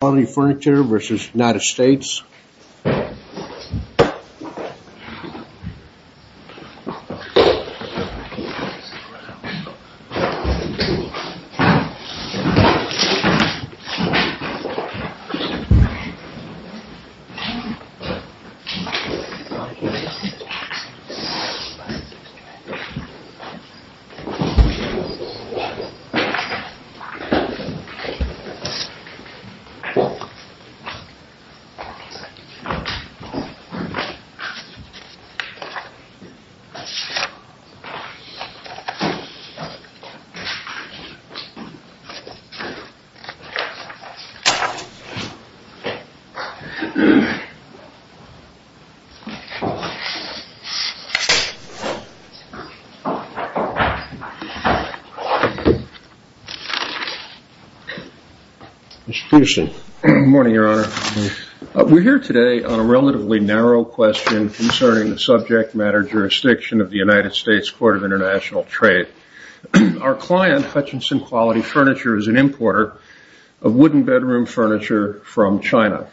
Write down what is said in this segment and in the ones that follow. Quality Furniture v. United States Quality Furniture v. United States Good morning, Your Honor. We're here today on a relatively narrow question concerning the subject matter jurisdiction of the United States Court of International Trade. Our client, Hutchinson Quality Furniture, is an importer of wooden bedroom furniture from China.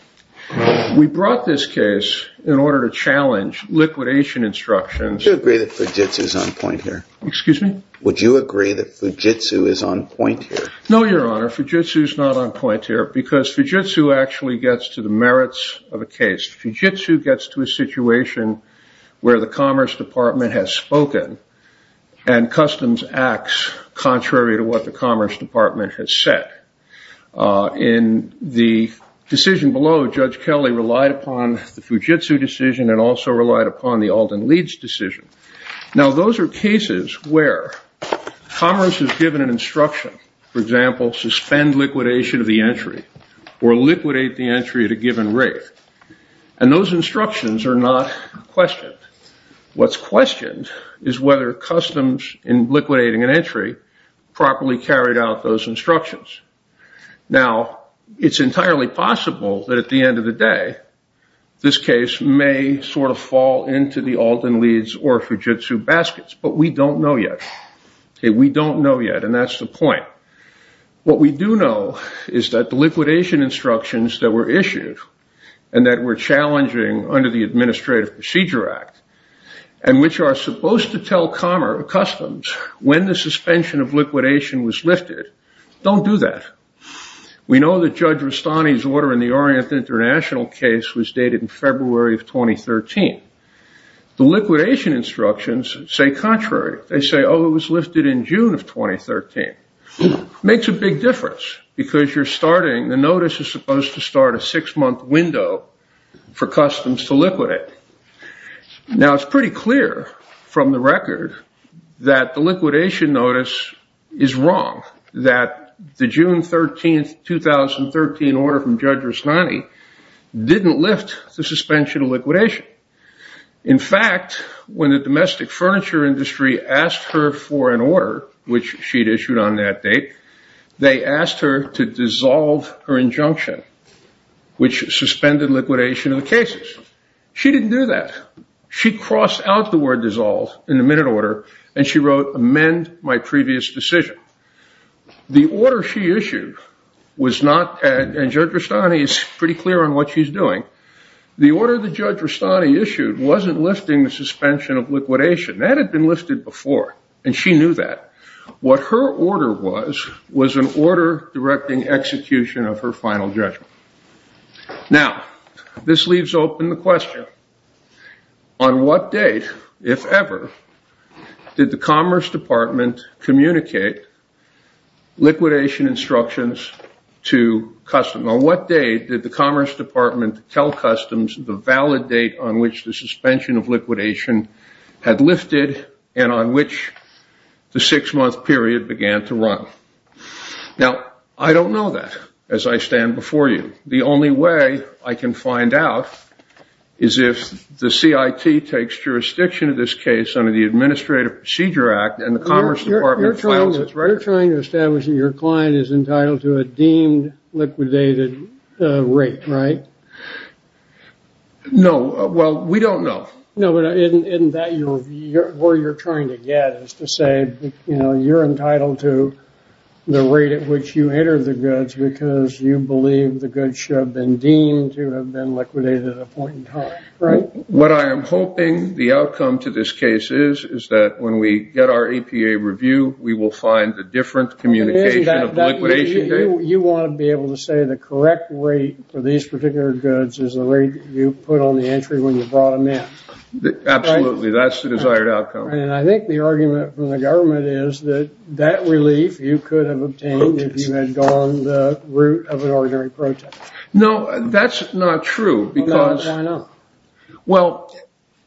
We brought this case in order to challenge liquidation instructions. Do you agree that Fujitsu is on point here? Excuse me? Would you agree that Fujitsu is on point here? No, Your Honor. Fujitsu is not on point here, because Fujitsu actually gets to the merits of a case. Fujitsu gets to a situation where the Commerce Department has spoken and customs acts contrary to what the Commerce Department has said. In the decision below, Judge Kelly relied upon the Fujitsu decision and also relied upon the Alden-Leeds decision. Now, those are cases where Commerce has given an instruction, for example, suspend liquidation of the entry or liquidate the entry at a given rate. And those instructions are not questioned. What's questioned is whether customs in liquidating an entry properly carried out those instructions. Now, it's entirely possible that at the end of the day, this case may sort of fall into the Alden-Leeds or Fujitsu baskets. But we don't know yet. We don't know yet. And that's the point. What we do know is that the liquidation instructions that were issued and that were challenging under the Administrative Procedure Act and which are supposed to tell customs when the suspension of liquidation was lifted don't do that. We know that Judge Rustani's order in the Orient International case was dated in February of 2013. The liquidation instructions say contrary. They say, oh, it was lifted in June of 2013. Makes a big difference, because you're starting the notice is supposed to start a six-month window for customs to liquidate. Now, it's pretty clear from the record that the liquidation notice is wrong, that the June 13, 2013 order from Judge Rustani didn't lift the suspension of liquidation. In fact, when the domestic furniture industry asked her for an order, which she'd issued on that date, they asked her to dissolve her injunction, which suspended liquidation of the cases. She didn't do that. She crossed out the word dissolve in the minute order, and she wrote, amend my previous decision. The order she issued was not, and Judge Rustani is pretty clear on what she's doing, the order that Judge Rustani issued wasn't lifting the suspension of liquidation. That had been lifted before, and she knew that. What her order was was an order directing execution of her final judgment. Now, this leaves open the question, on what date, if ever, did the Commerce Department communicate liquidation instructions to customs? On what date did the Commerce Department tell customs the valid date on which the suspension of liquidation had lifted, and on which the six-month period began to run? Now, I don't know that, as I stand before you. The only way I can find out is if the CIT takes jurisdiction of this case under the Administrative Procedure Act, and the Commerce Department files its record. You're trying to establish that your client is entitled to a deemed liquidated rate, right? No, well, we don't know. No, but isn't that where you're trying to get, is to say you're entitled to the rate at which you enter the goods because you believe the goods should have been deemed to have been liquidated at a point in time, right? What I am hoping the outcome to this case is, is that when we get our APA review, we will find a different communication of the liquidation date. You want to be able to say the correct rate for these particular goods is the rate you put on the entry when you brought them in. Absolutely, that's the desired outcome. And I think the argument from the government is that that relief you could have obtained if you had gone the route of an ordinary protest. No, that's not true, because, well,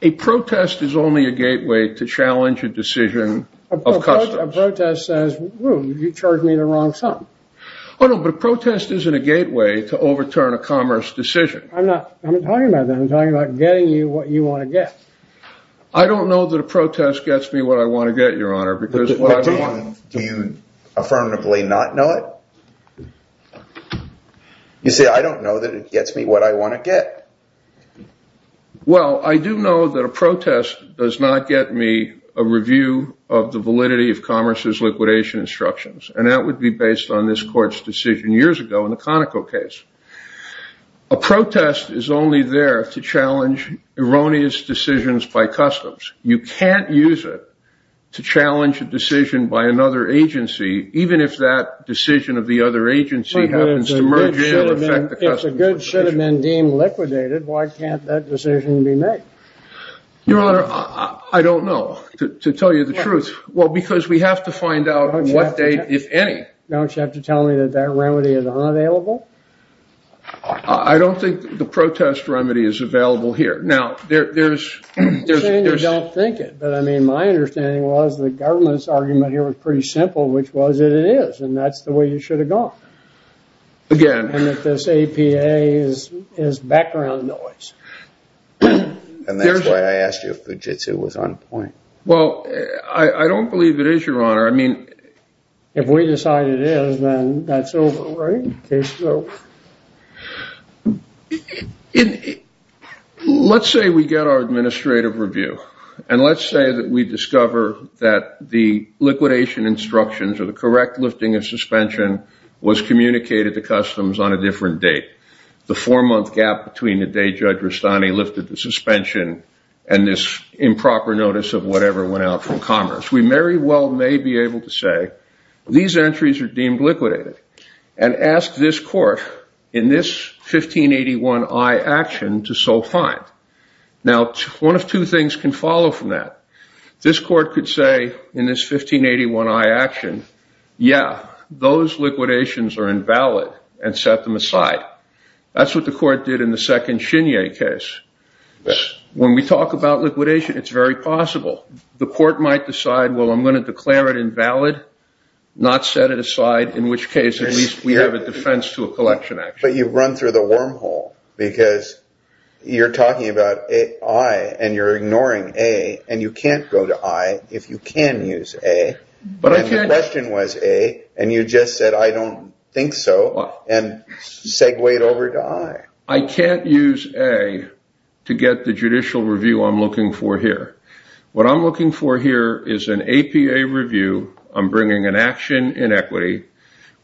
a protest is only a gateway to challenge a decision of customs. A protest says, whew, you charged me the wrong sum. Oh, no, but a protest isn't a gateway to overturn a commerce decision. I'm not talking about that. I'm talking about getting you what you want to get. I don't know that a protest gets me what I want to get, Your Honor, because what I want to get. Do you affirmatively not know it? You say, I don't know that it gets me what I want to get. Well, I do know that a protest does not get me a review of the validity of commerce's liquidation instructions. And that would be based on this court's decision years ago in the Conoco case. A protest is only there to challenge erroneous decisions by customs. You can't use it to challenge a decision by another agency, even if that decision of the other agency happens to merge in and affect the customs decision. If the goods should have been deemed liquidated, why can't that decision be made? Your Honor, I don't know, to tell you the truth. Well, because we have to find out what date, if any. Don't you have to tell me that that remedy is unavailable? I don't think the protest remedy is available here. Now, there's. I'm saying you don't think it, but my understanding was the government's argument here was pretty simple, which was it is. And that's the way you should have gone. Again. And that this APA is background noise. And that's why I asked you if Fujitsu was on point. Well, I don't believe it is, Your Honor. I mean. If we decide it is, then that's over, right? Case is over. Let's say we get our administrative review. And let's say that we discover that the liquidation instructions, or the correct lifting of suspension, was communicated to customs on a different date. The four-month gap between the day Judge Rustani lifted the suspension and this improper notice of whatever went out from commerce. We very well may be able to say, these entries are deemed liquidated. And ask this court, in this 1581I action, to so find. Now, one of two things can follow from that. This court could say, in this 1581I action, yeah, those liquidations are invalid and set them aside. That's what the court did in the second Shinye case. When we talk about liquidation, it's very possible. The court might decide, well, I'm going to declare it invalid, not set it aside. In which case, at least we have a defense to a collection action. But you've run through the wormhole. Because you're talking about I, and you're ignoring A. And you can't go to I if you can use A. But if the question was A, and you just said, I don't think so, and segue it over to I. I can't use A to get the judicial review I'm looking for here. What I'm looking for here is an APA review. I'm bringing an action in equity.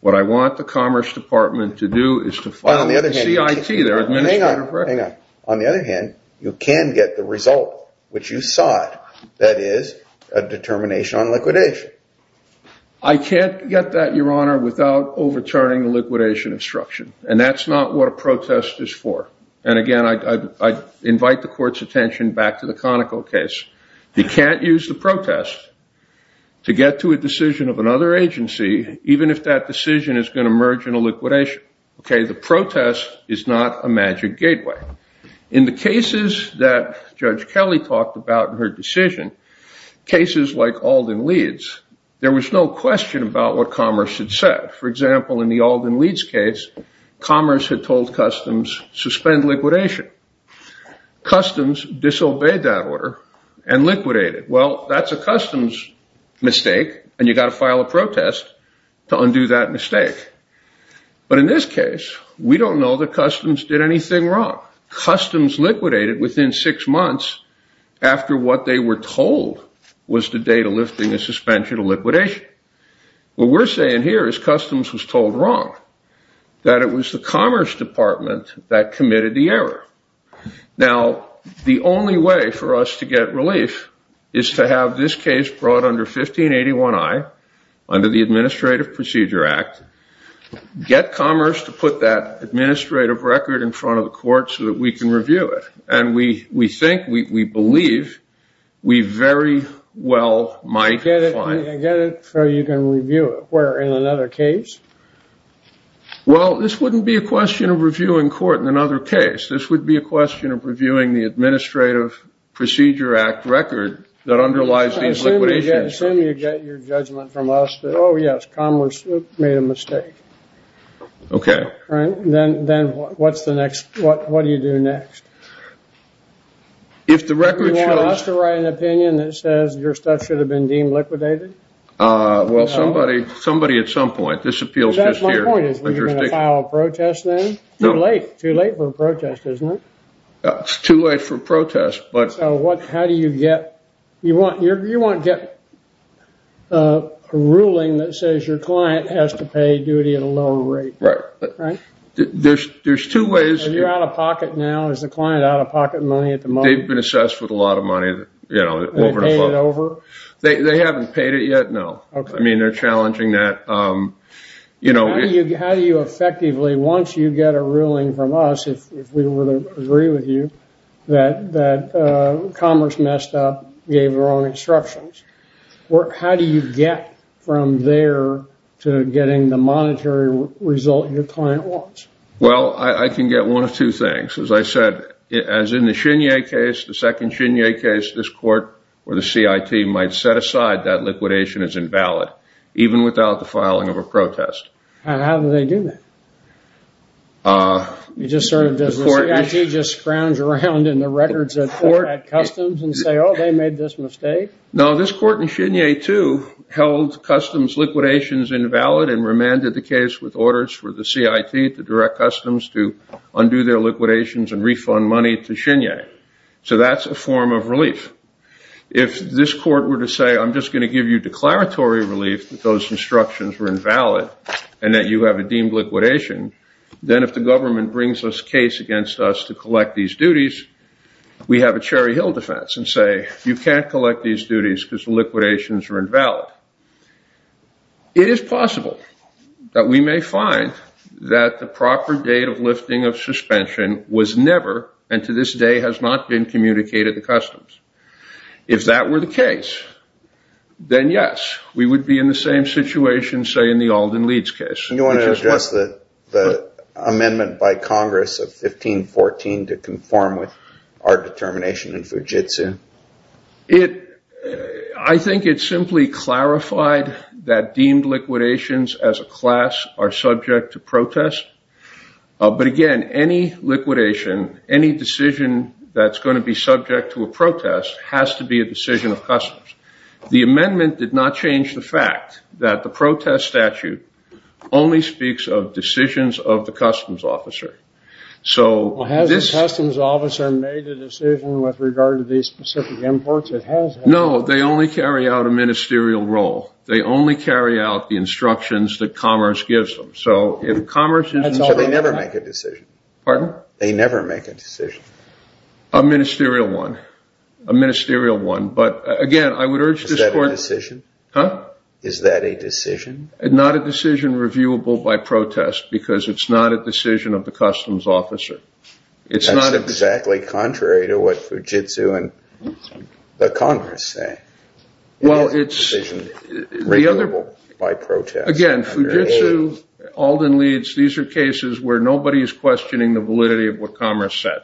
What I want the Commerce Department to do is to find the CIT, their administrator for it. On the other hand, you can get the result, which you sought, that is a determination on liquidation. I can't get that, Your Honor, without overturning the liquidation instruction. And that's not what a protest is for. And again, I invite the court's attention back to the Conoco case. You can't use the protest to get to a decision of another agency, even if that decision is going to merge in a liquidation. The protest is not a magic gateway. In the cases that Judge Kelly talked about in her decision, cases like Alden Leeds, there was no question about what Commerce had said. For example, in the Alden Leeds case, Commerce had told Customs suspend liquidation. Customs disobeyed that order and liquidated. Well, that's a Customs mistake, and you've got to file a protest to undo that mistake. But in this case, we don't know that Customs did anything wrong. Customs liquidated within six months after what they were told was the date of lifting the suspension of liquidation. What we're saying here is Customs was told wrong, that it was the Commerce Department that committed the error. Now, the only way for us to get relief is to have this case brought under 1581i under the Administrative Procedure Act, get Commerce to put that administrative record in front of the court so that we can review it. And we think, we believe, we very well might find it. Get it so you can review it. Where, in another case? Well, this wouldn't be a question of reviewing court in another case. This would be a question of reviewing the Administrative Procedure Act record that underlies these liquidations. Assume you get your judgment from us that, oh, yes, Commerce made a mistake. OK. Then what's the next? What do you do next? If the record shows. Do you want us to write an opinion that says your stuff should have been deemed liquidated? Well, somebody at some point. This appeals just here. That's my point, is you're going to file a protest then? Too late. Too late for a protest, isn't it? It's too late for a protest, but. So how do you get? You want to get a ruling that says your client has to pay duty at a lower rate, right? There's two ways. Are you out of pocket now? Is the client out of pocket money at the moment? They've been assessed with a lot of money over and over. Have they paid it over? They haven't paid it yet, no. I mean, they're challenging that. How do you effectively, once you get a ruling from us, if we were to agree with you, that Commerce messed up, gave the wrong instructions? How do you get from there to getting the monetary result your client wants? Well, I can get one of two things. As I said, as in the Shinye case, the second Shinye case, this court or the CIT might set aside that liquidation is invalid, even without the filing of a protest. And how do they do that? You just sort of do this. The CIT just frowns around in the records at court at Customs and say, oh, they made this mistake. No, this court in Shinye 2 held Customs liquidations invalid and remanded the case with orders for the CIT to direct Customs to undo their liquidations and refund money to Shinye. So that's a form of relief. If this court were to say, I'm just going to give you declaratory relief that those instructions were invalid and that you have a deemed liquidation, then if the government brings this case against us to collect these duties, we have a Cherry Hill defense and say, you can't collect these duties because the liquidations are invalid. It is possible that we may find that the proper date of lifting of suspension was never, and to this day has not been, communicated to Customs. If that were the case, then yes, we would be in the same situation, say, in the Alden-Leeds case. And you want to address the amendment by Congress of 1514 to conform with our determination in Fujitsu? I think it simply clarified that deemed liquidations as a class are subject to protest. But again, any liquidation, any decision that's going to be subject to a protest has to be a decision of Customs. The amendment did not change the fact that the protest statute only speaks of decisions of the Customs officer. So this is a decision with regard to these specific imports. No, they only carry out a ministerial role. They only carry out the instructions that Commerce gives them. So if Commerce is in charge, they never make a decision. Pardon? They never make a decision. A ministerial one. A ministerial one. But again, I would urge this court. Is that a decision? Huh? Is that a decision? Not a decision reviewable by protest, because it's not a decision of the Customs officer. It's not a decision. That's exactly contrary to what Fujitsu and the Congress say. Well, it's the other. A decision reviewable by protest. Again, Fujitsu, Alden-Leeds, these are cases where nobody is questioning the validity of what Commerce said.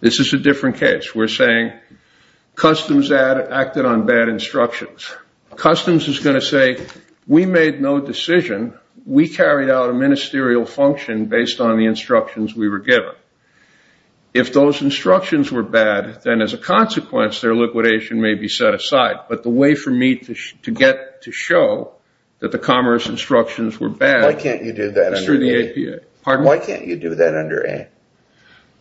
This is a different case. We're saying Customs acted on bad instructions. Customs is going to say, we made no decision. We carried out a ministerial function based on the instructions we were given. If those instructions were bad, then as a consequence, their liquidation may be set aside. But the way for me to get to show that the Commerce instructions were bad is through the APA. Pardon? Why can't you do that under A?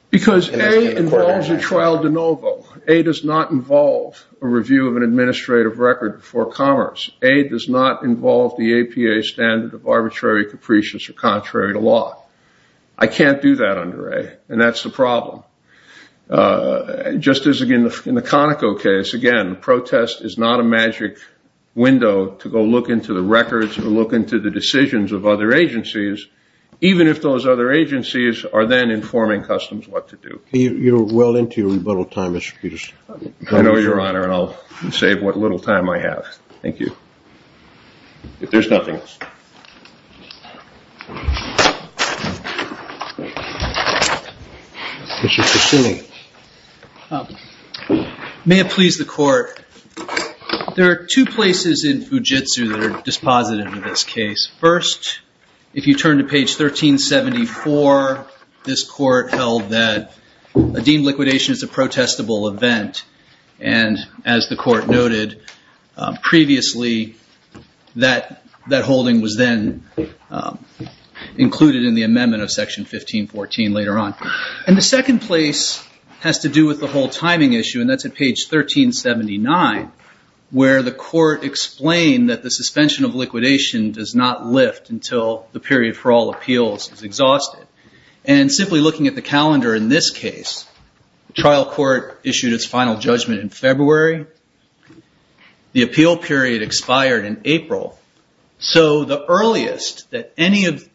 Because A involves a trial de novo. A does not involve a review of an administrative record for Commerce. A does not involve the APA standard of arbitrary, capricious, or contrary to law. I can't do that under A, and that's the problem. Just as in the Conoco case, again, protest is not a magic window to go look into the records or look into the decisions of other agencies, even if those other agencies are then informing Customs what to do. You're well into your rebuttal time, Mr. Peterson. I know, Your Honor, and I'll save what little time I have. Thank you. If there's nothing else. Mr. Cicilline. May it please the Court, there are two places in Fujitsu that are dispositive in this case. First, if you turn to page 1374, this court held that a deemed liquidation is a protestable event. And as the court noted previously, that holding was then included in the amendment of section 1514 later on. And the second place has to do with the whole timing issue, and that's at page 1379, where the court explained that the suspension of liquidation does not lift until the period for all appeals is exhausted. And simply looking at the calendar in this case, trial court issued its final judgment in February. The appeal period expired in April. So the earliest that any of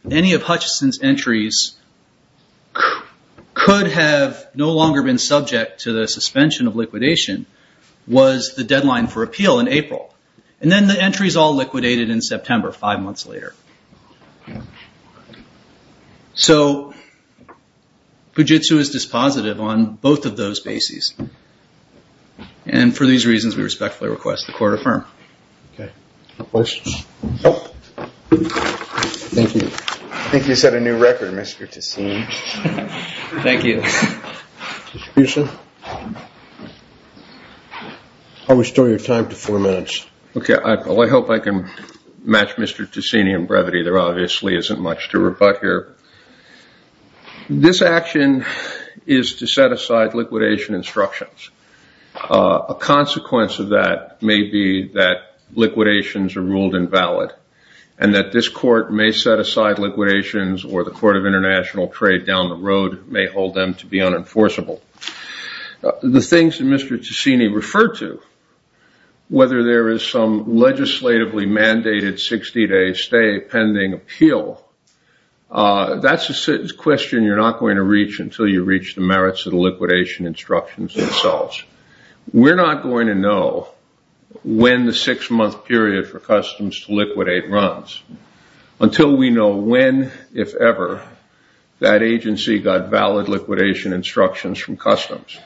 Hutchison's entries could have no longer been subject to the suspension of liquidation was the deadline for appeal in April. And then the entries all liquidated in September, five months later. So Fujitsu is dispositive on both of those bases. And for these reasons, we respectfully request the court affirm. OK. Any questions? Thank you. I think you set a new record, Mr. Cicilline. Thank you. Mr. Peterson. I'll restore your time to four minutes. OK, I hope I can match Mr. Cicilline in brevity. There obviously isn't much to rebut here. This action is to set aside liquidation instructions. A consequence of that may be that liquidations are ruled invalid, and that this court may set aside liquidations, or the Court of International Trade down the road may hold them to be unenforceable. The things that Mr. Cicilline referred to, whether there is some legislatively mandated 60-day stay pending appeal, that's a question you're not going to reach until you reach the merits of the liquidation instructions themselves. We're not going to know when the six-month period for customs to liquidate runs until we know when, if ever, that agency got valid liquidation instructions from customs.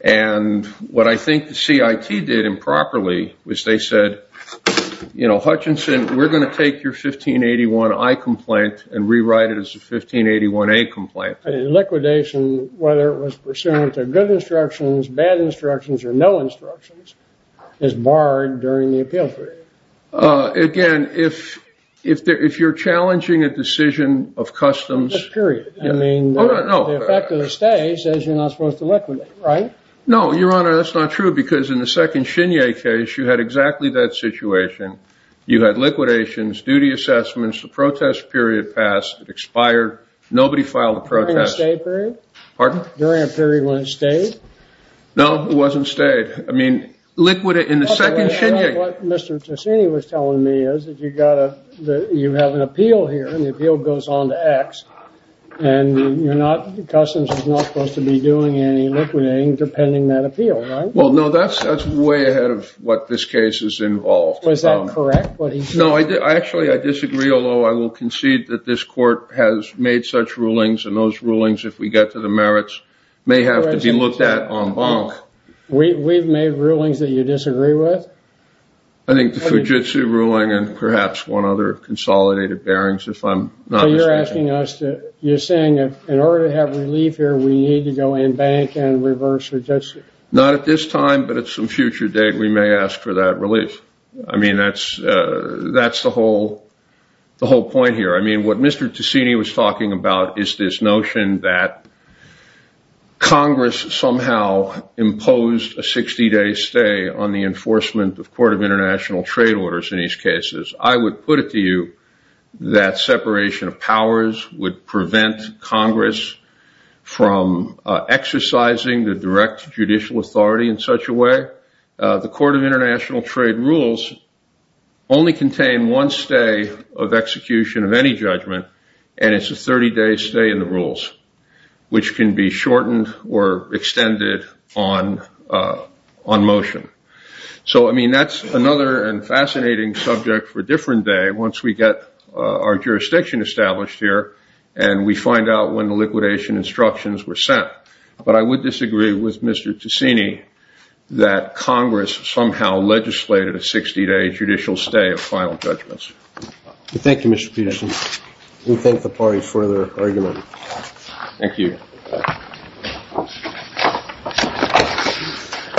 And what I think the CIT did improperly was they said, you know, Hutchinson, we're going to take your 1581-I complaint and rewrite it as a 1581-A complaint. Liquidation, whether it was pursuant to good instructions, bad instructions, or no instructions, is barred during the appeal period. Again, if you're challenging a decision of customs. A period. I mean, the effect of the stay says you're not supposed to liquidate, right? No, Your Honor, that's not true. Because in the second Shinya case, you had exactly that situation. You had liquidations, duty assessments, the protest period passed, it expired, nobody filed a protest. During a stay period? Pardon? During a period when it stayed? No, it wasn't stayed. I mean, liquidate in the second Shinya. What Mr. Tosini was telling me is that you have an appeal here, and the appeal goes on to X. And the customs is not supposed to be doing any liquidating, depending that appeal, right? Well, no, that's way ahead of what this case is involved. Was that correct? No, actually, I disagree. Although I will concede that this court has made such rulings, and those rulings, if we get to the merits, may have to be looked at en banc. We've made rulings that you disagree with? I think the Fujitsu ruling and perhaps one other consolidated bearings, if I'm not mistaken. So you're asking us to, you're saying that in order to have relief here, we need to go en banc and reverse Fujitsu? Not at this time, but at some future date, we may ask for that relief. I mean, that's the whole point here. I mean, what Mr. Tosini was talking about is this notion that Congress somehow imposed a 60-day stay on the enforcement of Court of International Trade orders in these cases. I would put it to you that separation of powers would prevent Congress from exercising the direct judicial authority in such a way. The Court of International Trade rules only contain one stay of execution of any judgment, and it's a 30-day stay in the rules, which can be shortened or extended on motion. So I mean, that's another and fascinating subject for a different day once we get our jurisdiction established here and we find out when the liquidation instructions were sent. But I would disagree with Mr. Tosini that Congress somehow legislated a 60-day judicial stay of final judgments. Thank you, Mr. Peterson. We thank the party for their argument. Thank you.